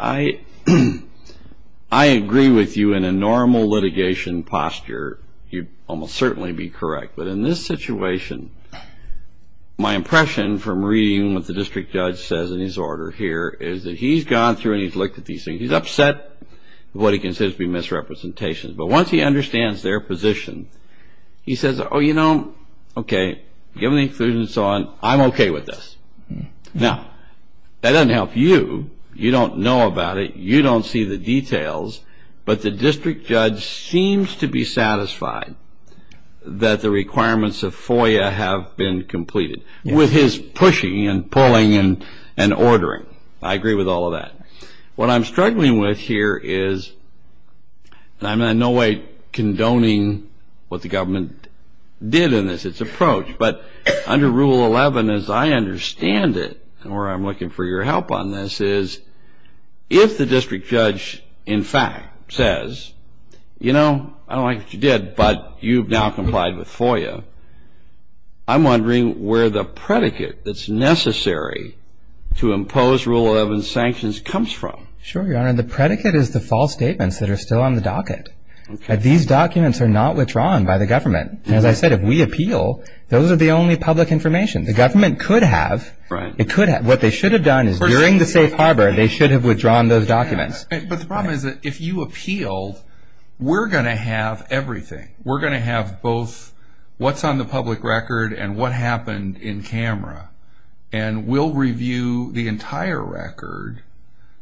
I agree with you in a normal litigation posture. You'd almost certainly be correct. But in this situation, my impression from reading what the district judge says in his order here is that he's gone through and he's looked at these things. He's upset with what he considers to be misrepresentations. But once he understands their position, he says, oh, you know, okay, given the inclusion and so on, I'm okay with this. Now, that doesn't help you. You don't know about it. You don't see the details. But the district judge seems to be satisfied that the requirements of FOIA have been completed with his pushing and pulling and ordering. I agree with all of that. What I'm struggling with here is, and I'm in no way condoning what the government did in this, its approach, but under Rule 11, as I understand it, and where I'm looking for your help on this, is if the district judge in fact says, you know, I don't like what you did, but you've now complied with FOIA, I'm wondering where the predicate that's necessary to impose Rule 11 sanctions comes from. Sure, Your Honor. The predicate is the false statements that are still on the docket. These documents are not withdrawn by the government. As I said, if we appeal, those are the only public information. The government could have. It could have. What they should have done is during the safe harbor, they should have withdrawn those documents. But the problem is that if you appealed, we're going to have everything. We're going to have both what's on the public record and what happened in camera. And we'll review the entire record.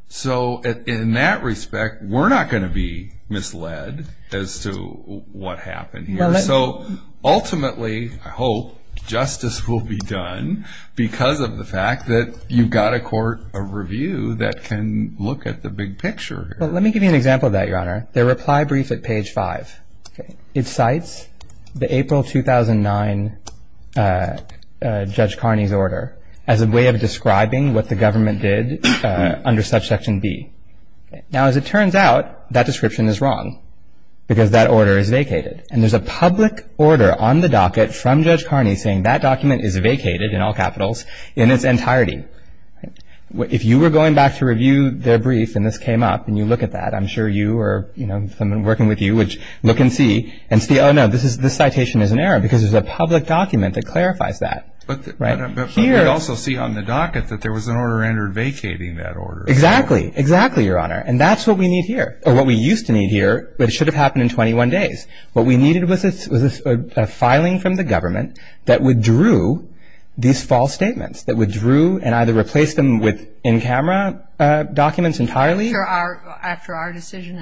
So in that respect, we're not going to be misled as to what happened here. So ultimately, I hope, justice will be done because of the fact that you've got a court of review that can look at the big picture here. Well, let me give you an example of that, Your Honor. The reply brief at page five. It cites the April 2009 Judge Carney's order as a way of describing what the government did under subsection B. Now, as it turns out, that description is wrong because that order is vacated. And there's a public order on the docket from Judge Carney saying that document is vacated in all capitals in its entirety. If you were going back to review their brief and this came up and you look at that, I'm sure you or someone working with you would look and see and say, oh, no, this citation is an error because there's a public document that clarifies that. But we also see on the docket that there was an order entered vacating that order. Exactly. Exactly, Your Honor. And that's what we need here, or what we used to need here, but it should have happened in 21 days. What we needed was a filing from the government that withdrew these false statements, that withdrew and either replaced them with in-camera documents entirely. After our decision,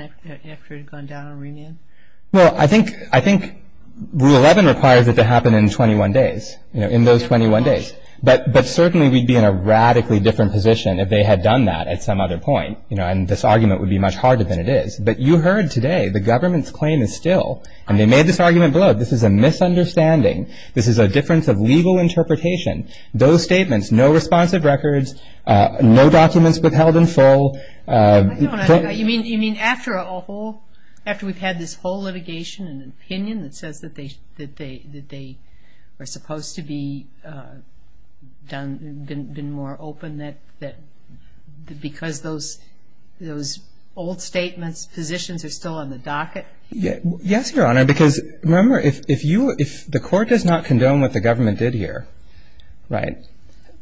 after it had gone down on remand? Well, I think Rule 11 requires it to happen in 21 days, you know, in those 21 days. But certainly we'd be in a radically different position if they had done that at some other point, you know, and this argument would be much harder than it is. But you heard today the government's claim is still, and they made this argument below it, this is a misunderstanding, this is a difference of legal interpretation. Those statements, no responsive records, no documents withheld in full. I don't understand. You mean after a whole, after we've had this whole litigation and an opinion that says that they are supposed to be done, been more open that because those old statements, positions are still on the docket? Yes, Your Honor, because remember, if the court does not condone what the government did here, right,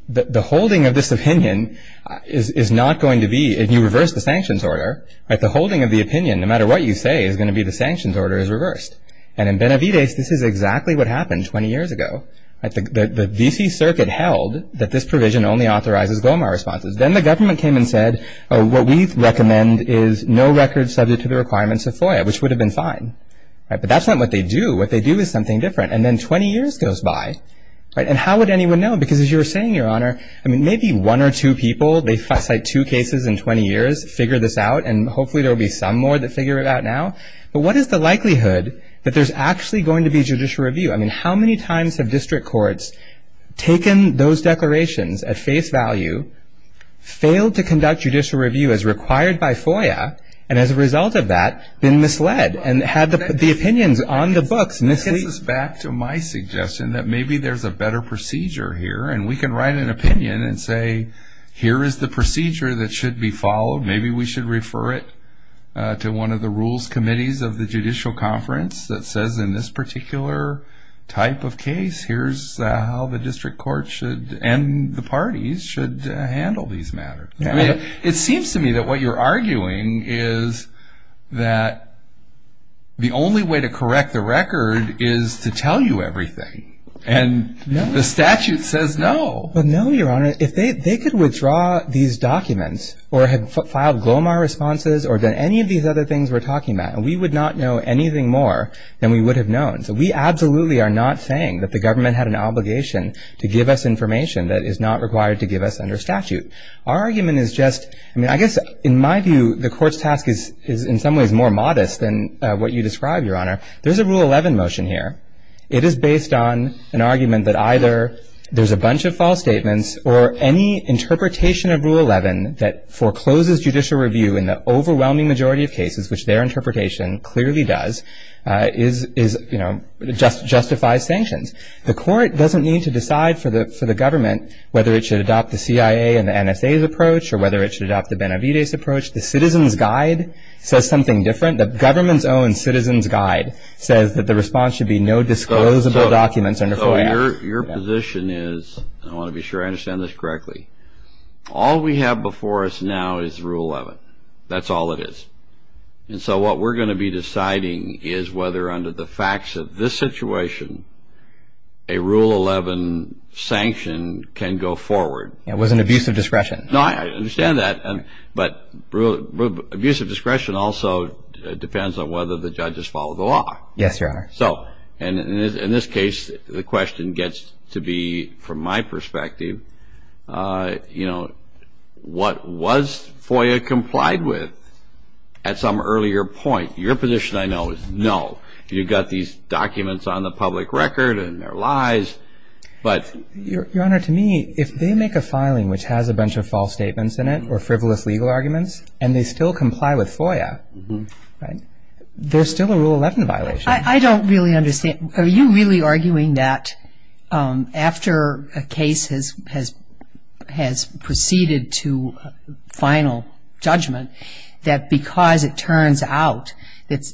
the holding of this opinion is not going to be, if you reverse the sanctions order, the holding of the opinion, no matter what you say, is going to be the sanctions order is reversed. And in Benavidez, this is exactly what happened 20 years ago. The V.C. Circuit held that this provision only authorizes Glomar responses. Then the government came and said, what we recommend is no records subject to the requirements of FOIA, which would have been fine. But that's not what they do. What they do is something different. And then 20 years goes by. And how would anyone know? Because as you were saying, Your Honor, I mean, maybe one or two people, they cite two cases in 20 years, figure this out. And hopefully there will be some more that figure it out now. But what is the likelihood that there's actually going to be judicial review? I mean, how many times have district courts taken those declarations at face value, failed to conduct judicial review as required by FOIA, and as a result of that, been misled and had the opinions on the books mislead? Well, that brings us back to my suggestion that maybe there's a better procedure here. And we can write an opinion and say, here is the procedure that should be followed. Maybe we should refer it to one of the rules committees of the Judicial Conference that says in this particular type of case, here's how the district court should and the parties should handle these matters. I mean, it seems to me that what you're arguing is that the only way to correct the record is to tell you everything, and the statute says no. But no, Your Honor. If they could withdraw these documents or had filed GLOMAR responses or done any of these other things we're talking about, we would not know anything more than we would have known. So we absolutely are not saying that the government had an obligation to give us information that is not required to give us under statute. Our argument is just, I mean, I guess in my view, the court's task is in some ways more modest than what you describe, Your Honor. There's a Rule 11 motion here. It is based on an argument that either there's a bunch of false statements or any interpretation of Rule 11 that forecloses judicial review in the overwhelming majority of cases, which their interpretation clearly does, is, you know, justifies sanctions. The court doesn't need to decide for the government whether it should adopt the CIA and the NSA's approach or whether it should adopt the Benavidez approach. The Citizens Guide says something different. The government's own Citizens Guide says that the response should be no disclosable documents under FOIA. Your position is, I want to be sure I understand this correctly, all we have before us now is Rule 11. That's all it is. And so what we're going to be deciding is whether under the facts of this situation, a Rule 11 sanction can go forward. It was an abuse of discretion. No, I understand that. But abuse of discretion also depends on whether the judges follow the law. Yes, Your Honor. So in this case, the question gets to be, from my perspective, you know, what was FOIA complied with at some earlier point? Your position, I know, is no. You've got these documents on the public record and they're lies, but. Your Honor, to me, if they make a filing which has a bunch of false statements in it or frivolous legal arguments, and they still comply with FOIA, right, there's still a Rule 11 violation. I don't really understand. Are you really arguing that after a case has proceeded to final judgment, that because it turns out that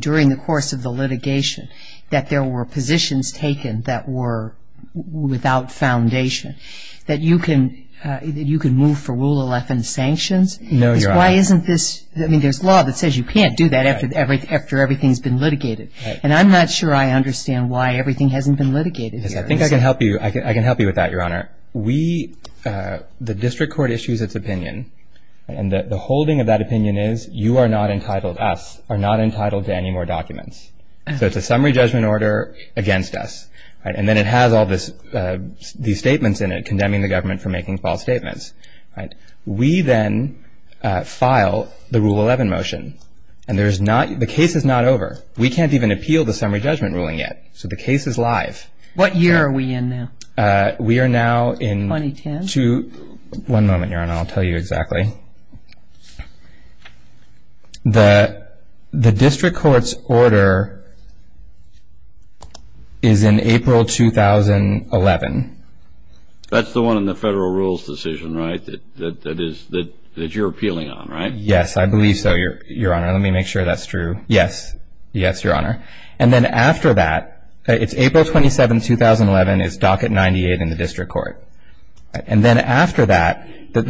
during the course of the litigation that there were positions taken that were without foundation, that you can move for Rule 11 sanctions? No, Your Honor. Why isn't this? I mean, there's law that says you can't do that after everything's been litigated. And I'm not sure I understand why everything hasn't been litigated. Because I think I can help you with that, Your Honor. We, the district court issues its opinion. And the holding of that opinion is you are not entitled, us, are not entitled to any more documents. So it's a summary judgment order against us. And then it has all these statements in it condemning the government for making false statements. We then file the Rule 11 motion. And the case is not over. We can't even appeal the summary judgment ruling yet. So the case is live. What year are we in now? We are now in 2010. One moment, Your Honor. I'll tell you exactly. The district court's order is in April 2011. That's the one in the federal rules decision, right, that you're appealing on, right? Yes, I believe so, Your Honor. Let me make sure that's true. Yes. Yes, Your Honor. And then after that, it's April 27, 2011, it's docket 98 in the district court. So we ask, then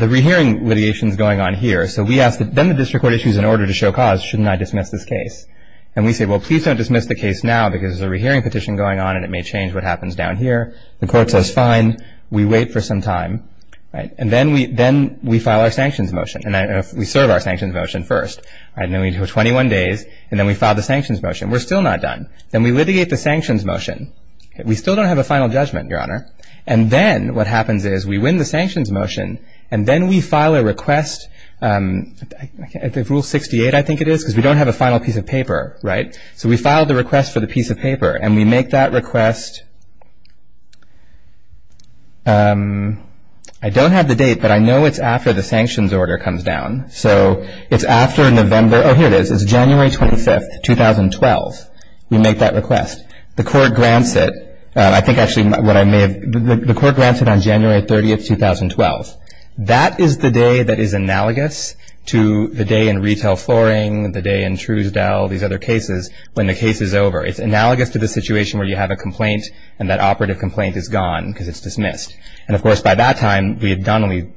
the district court issues an order to show cause, shouldn't I dismiss this case? And we say, well, please don't dismiss the case now because there's a rehearing petition going on, and it may change what happens down here. The court says, fine. We wait for some time, right? And then we file our sanctions motion. And we serve our sanctions motion first, right? And then we go 21 days, and then we file the sanctions motion. We're still not done. Then we litigate the sanctions motion. We still don't have a final judgment, Your Honor. And then what happens is we win the sanctions motion, and then we file a request, Rule 68, I think it is, because we don't have a final piece of paper, right? So we file the request for the piece of paper, and we make that request, I don't have the date, but I know it's after the sanctions order comes down. So it's after November, oh, here it is. It's January 25, 2012. We make that request. The court grants it. I think actually what I may have, the court grants it on January 30, 2012. That is the day that is analogous to the day in retail flooring, the day in Truesdale, these other cases, when the case is over. It's analogous to the situation where you have a complaint, and that operative complaint is gone because it's dismissed. And of course, by that time, we had done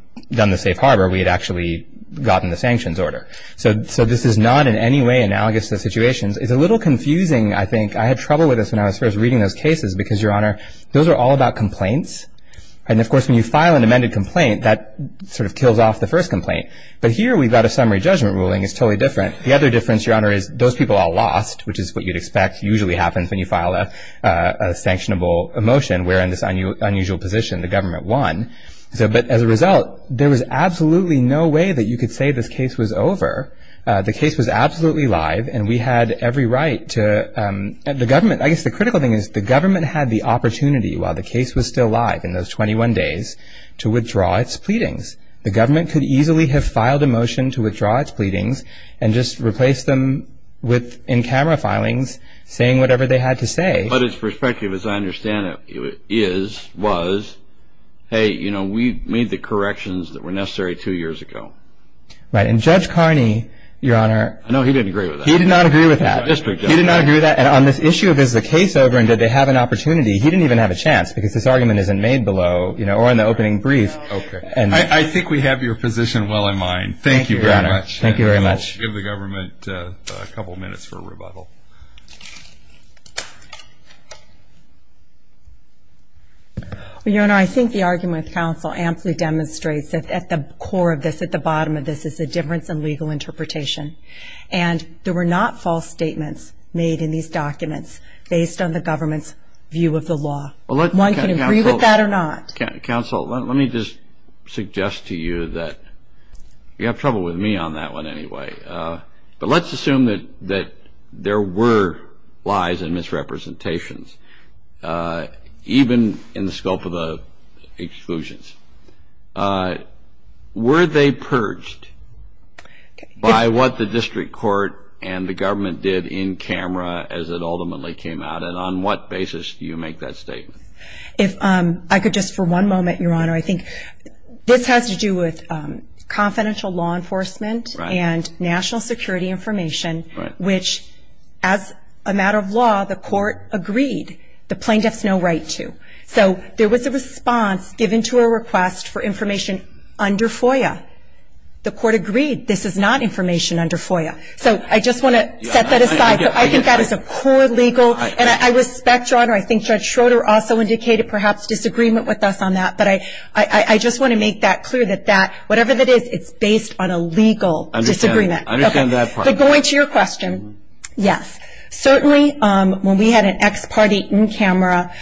the safe harbor. We had actually gotten the sanctions order. So this is not in any way analogous to situations. It's a little confusing, I think. I had trouble with this when I was first reading those cases because, Your Honor, those are all about complaints. And of course, when you file an amended complaint, that sort of kills off the first complaint. But here, we've got a summary judgment ruling. It's totally different. The other difference, Your Honor, is those people are lost, which is what you'd expect usually happens when you file a sanctionable motion. We're in this unusual position. The government won. But as a result, there was absolutely no way that you could say this case was over. The case was absolutely live, and we had every right to, the government, I guess the critical thing is the government had the opportunity, while the case was still live in those 21 days, to withdraw its pleadings. The government could easily have filed a motion to withdraw its pleadings and just replace them with in-camera filings saying whatever they had to say. But its perspective, as I understand it, is, was, hey, you know, we made the corrections that were necessary two years ago. Right, and Judge Carney, Your Honor. No, he didn't agree with that. He did not agree with that. District judge. He did not agree with that. And on this issue of is the case over and did they have an opportunity, he didn't even have a chance because this argument isn't made below or in the opening brief. I think we have your position well in mind. Thank you very much. Thank you very much. And we'll give the government a couple of minutes for a rebuttal. Your Honor, I think the argument of counsel amply demonstrates that at the core of this, at the bottom of this, is a difference in legal interpretation. And there were not false statements made in these documents based on the government's view of the law. One can agree with that or not. Counsel, let me just suggest to you that you have trouble with me on that one anyway. But let's assume that there were lies and misrepresentations, even in the scope of the exclusions. Were they purged by what the district court and the government did in camera as it ultimately came out? And on what basis do you make that statement? If I could just for one moment, Your Honor, I think this has to do with confidential law enforcement and national security information, which as a matter of law, the court agreed the plaintiff's no right to. So there was a response given to a request for information under FOIA. The court agreed this is not information under FOIA. So I just want to set that aside. I think that is a poor legal. And I respect, Your Honor, I think Judge Schroeder also indicated perhaps disagreement with us on that. But I just want to make that clear that whatever that is, it's based on a legal disagreement. I understand that part. But going to your question, yes. Certainly, when we had an ex-party in-camera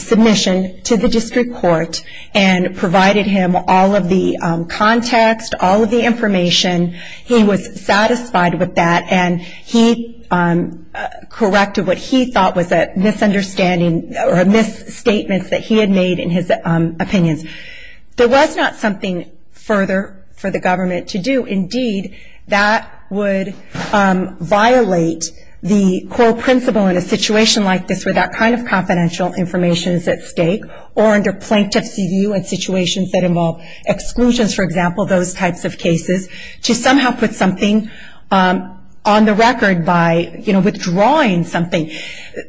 submission to the district court and provided him all of the context, all of the information, he was satisfied with that. And he corrected what he thought was a misunderstanding or a misstatement that he had made in his opinions. There was not something further for the government to do. Indeed, that would violate the core principle in a situation like this where that kind of confidential information is at stake or under plaintiff's view in situations that involve exclusions, for example, those types of cases to somehow put something on the record by, you know, withdrawing something.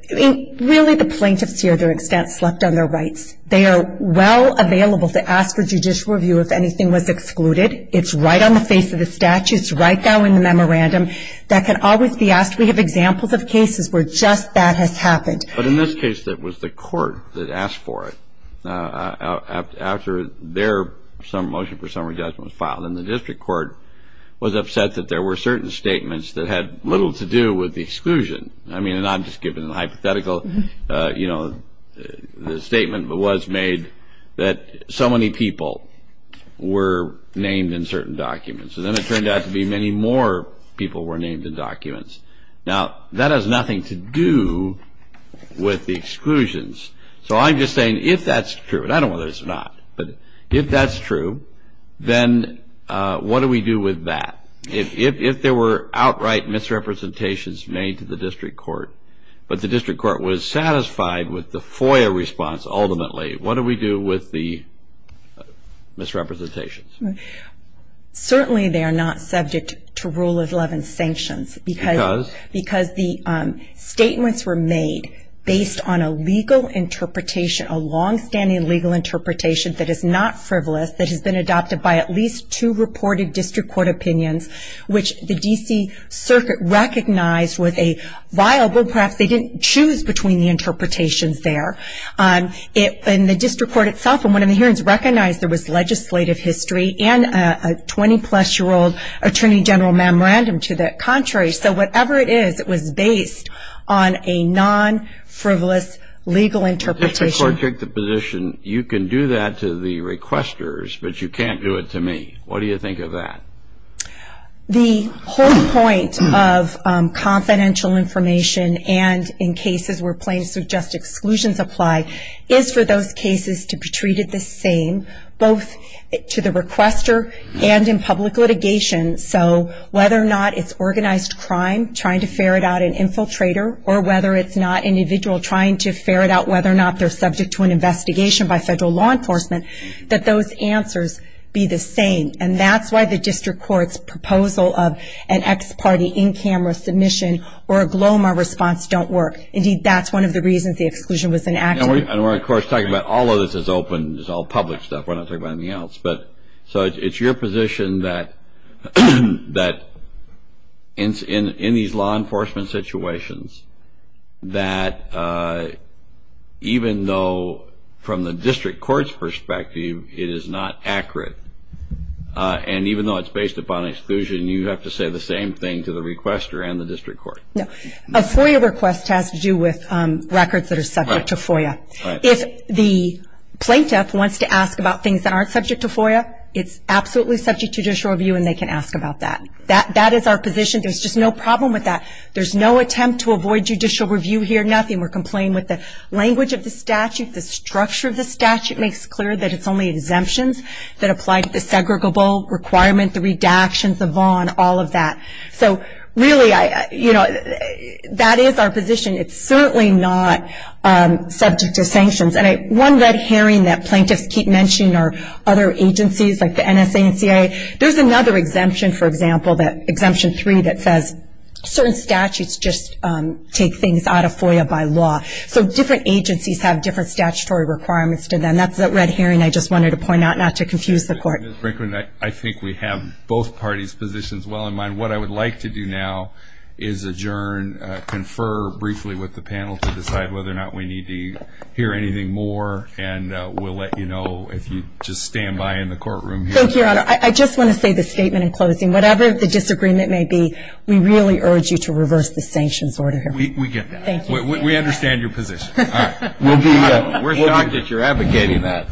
Really, the plaintiffs here, to an extent, slept on their rights. They are well available to ask for judicial review if anything was excluded. It's right on the face of the statutes, right now in the memorandum. That can always be asked. We have examples of cases where just that has happened. But in this case, it was the court that asked for it. After their motion for summary judgment was filed, and the district court was upset that there were certain statements that had little to do with the exclusion. I mean, and I'm just giving a hypothetical. You know, the statement was made that so many people were named in certain documents. And then it turned out to be many more people were named in documents. Now, that has nothing to do with the exclusions. So I'm just saying, if that's true, and I don't know whether it's or not, but if that's true, then what do we do with that? If there were outright misrepresentations made to the district court, but the district court was satisfied with the FOIA response, ultimately, what do we do with the misrepresentations? Certainly, they are not subject to rule of 11 sanctions. Because? Because the statements were made based on a legal interpretation, a longstanding legal interpretation that is not frivolous, that has been adopted by at least two reported district court opinions, which the DC Circuit recognized was a viable, perhaps they didn't choose between the interpretations there. And the district court itself, in one of the hearings, recognized there was legislative history and a 20-plus-year-old attorney general memorandum to the contrary. So whatever it is, it was based on a non-frivolous legal interpretation. The district court took the position, you can do that to the requesters, but you can't do it to me. What do you think of that? The whole point of confidential information, and in cases where plain and suggest exclusions apply, is for those cases to be treated the same, both to the requester and in public litigation. So whether or not it's organized crime, trying to ferret out an infiltrator, or whether it's not an individual trying to ferret out whether or not they're subject to an investigation by federal law enforcement, that those answers be the same. And that's why the district court's proposal of an ex-party in-camera submission or a GLOMAR response don't work. Indeed, that's one of the reasons the exclusion was enacted. And we're, of course, talking about all of this is open. It's all public stuff. We're not talking about anything else. So it's your position that in these law enforcement situations, that even though from the district court's perspective, it is not accurate, and even though it's based upon exclusion, you have to say the same thing to the requester and the district court. A FOIA request has to do with records that are subject to FOIA. If the plaintiff wants to ask about things that aren't subject to FOIA, it's absolutely subject to judicial review, and they can ask about that. That is our position. There's just no problem with that. There's no attempt to avoid judicial review here, nothing. We're complying with the language of the statute. The structure of the statute makes clear that it's only exemptions that apply to the segregable requirement, the redactions, the VON, all of that. So really, that is our position. It's certainly not subject to sanctions. And one red herring that plaintiffs keep mentioning are other agencies like the NSA and CIA. There's another exemption, for example, that Exemption 3, that says certain statutes just take things out of FOIA by law. So different agencies have different statutory requirements to them. That's that red herring I just wanted to point out, not to confuse the court. Ms. Brinkman, I think we have both parties' positions well in mind. What I would like to do now is adjourn, confer briefly with the panel to decide whether or not we need to hear anything more. And we'll let you know if you just stand by in the courtroom here. Thank you, Your Honor. I just want to say this statement in closing. Whatever the disagreement may be, we really urge you to reverse the sanctions order here. We get that. Thank you. We understand your position. All right. We'll be here. We're shocked that you're advocating that.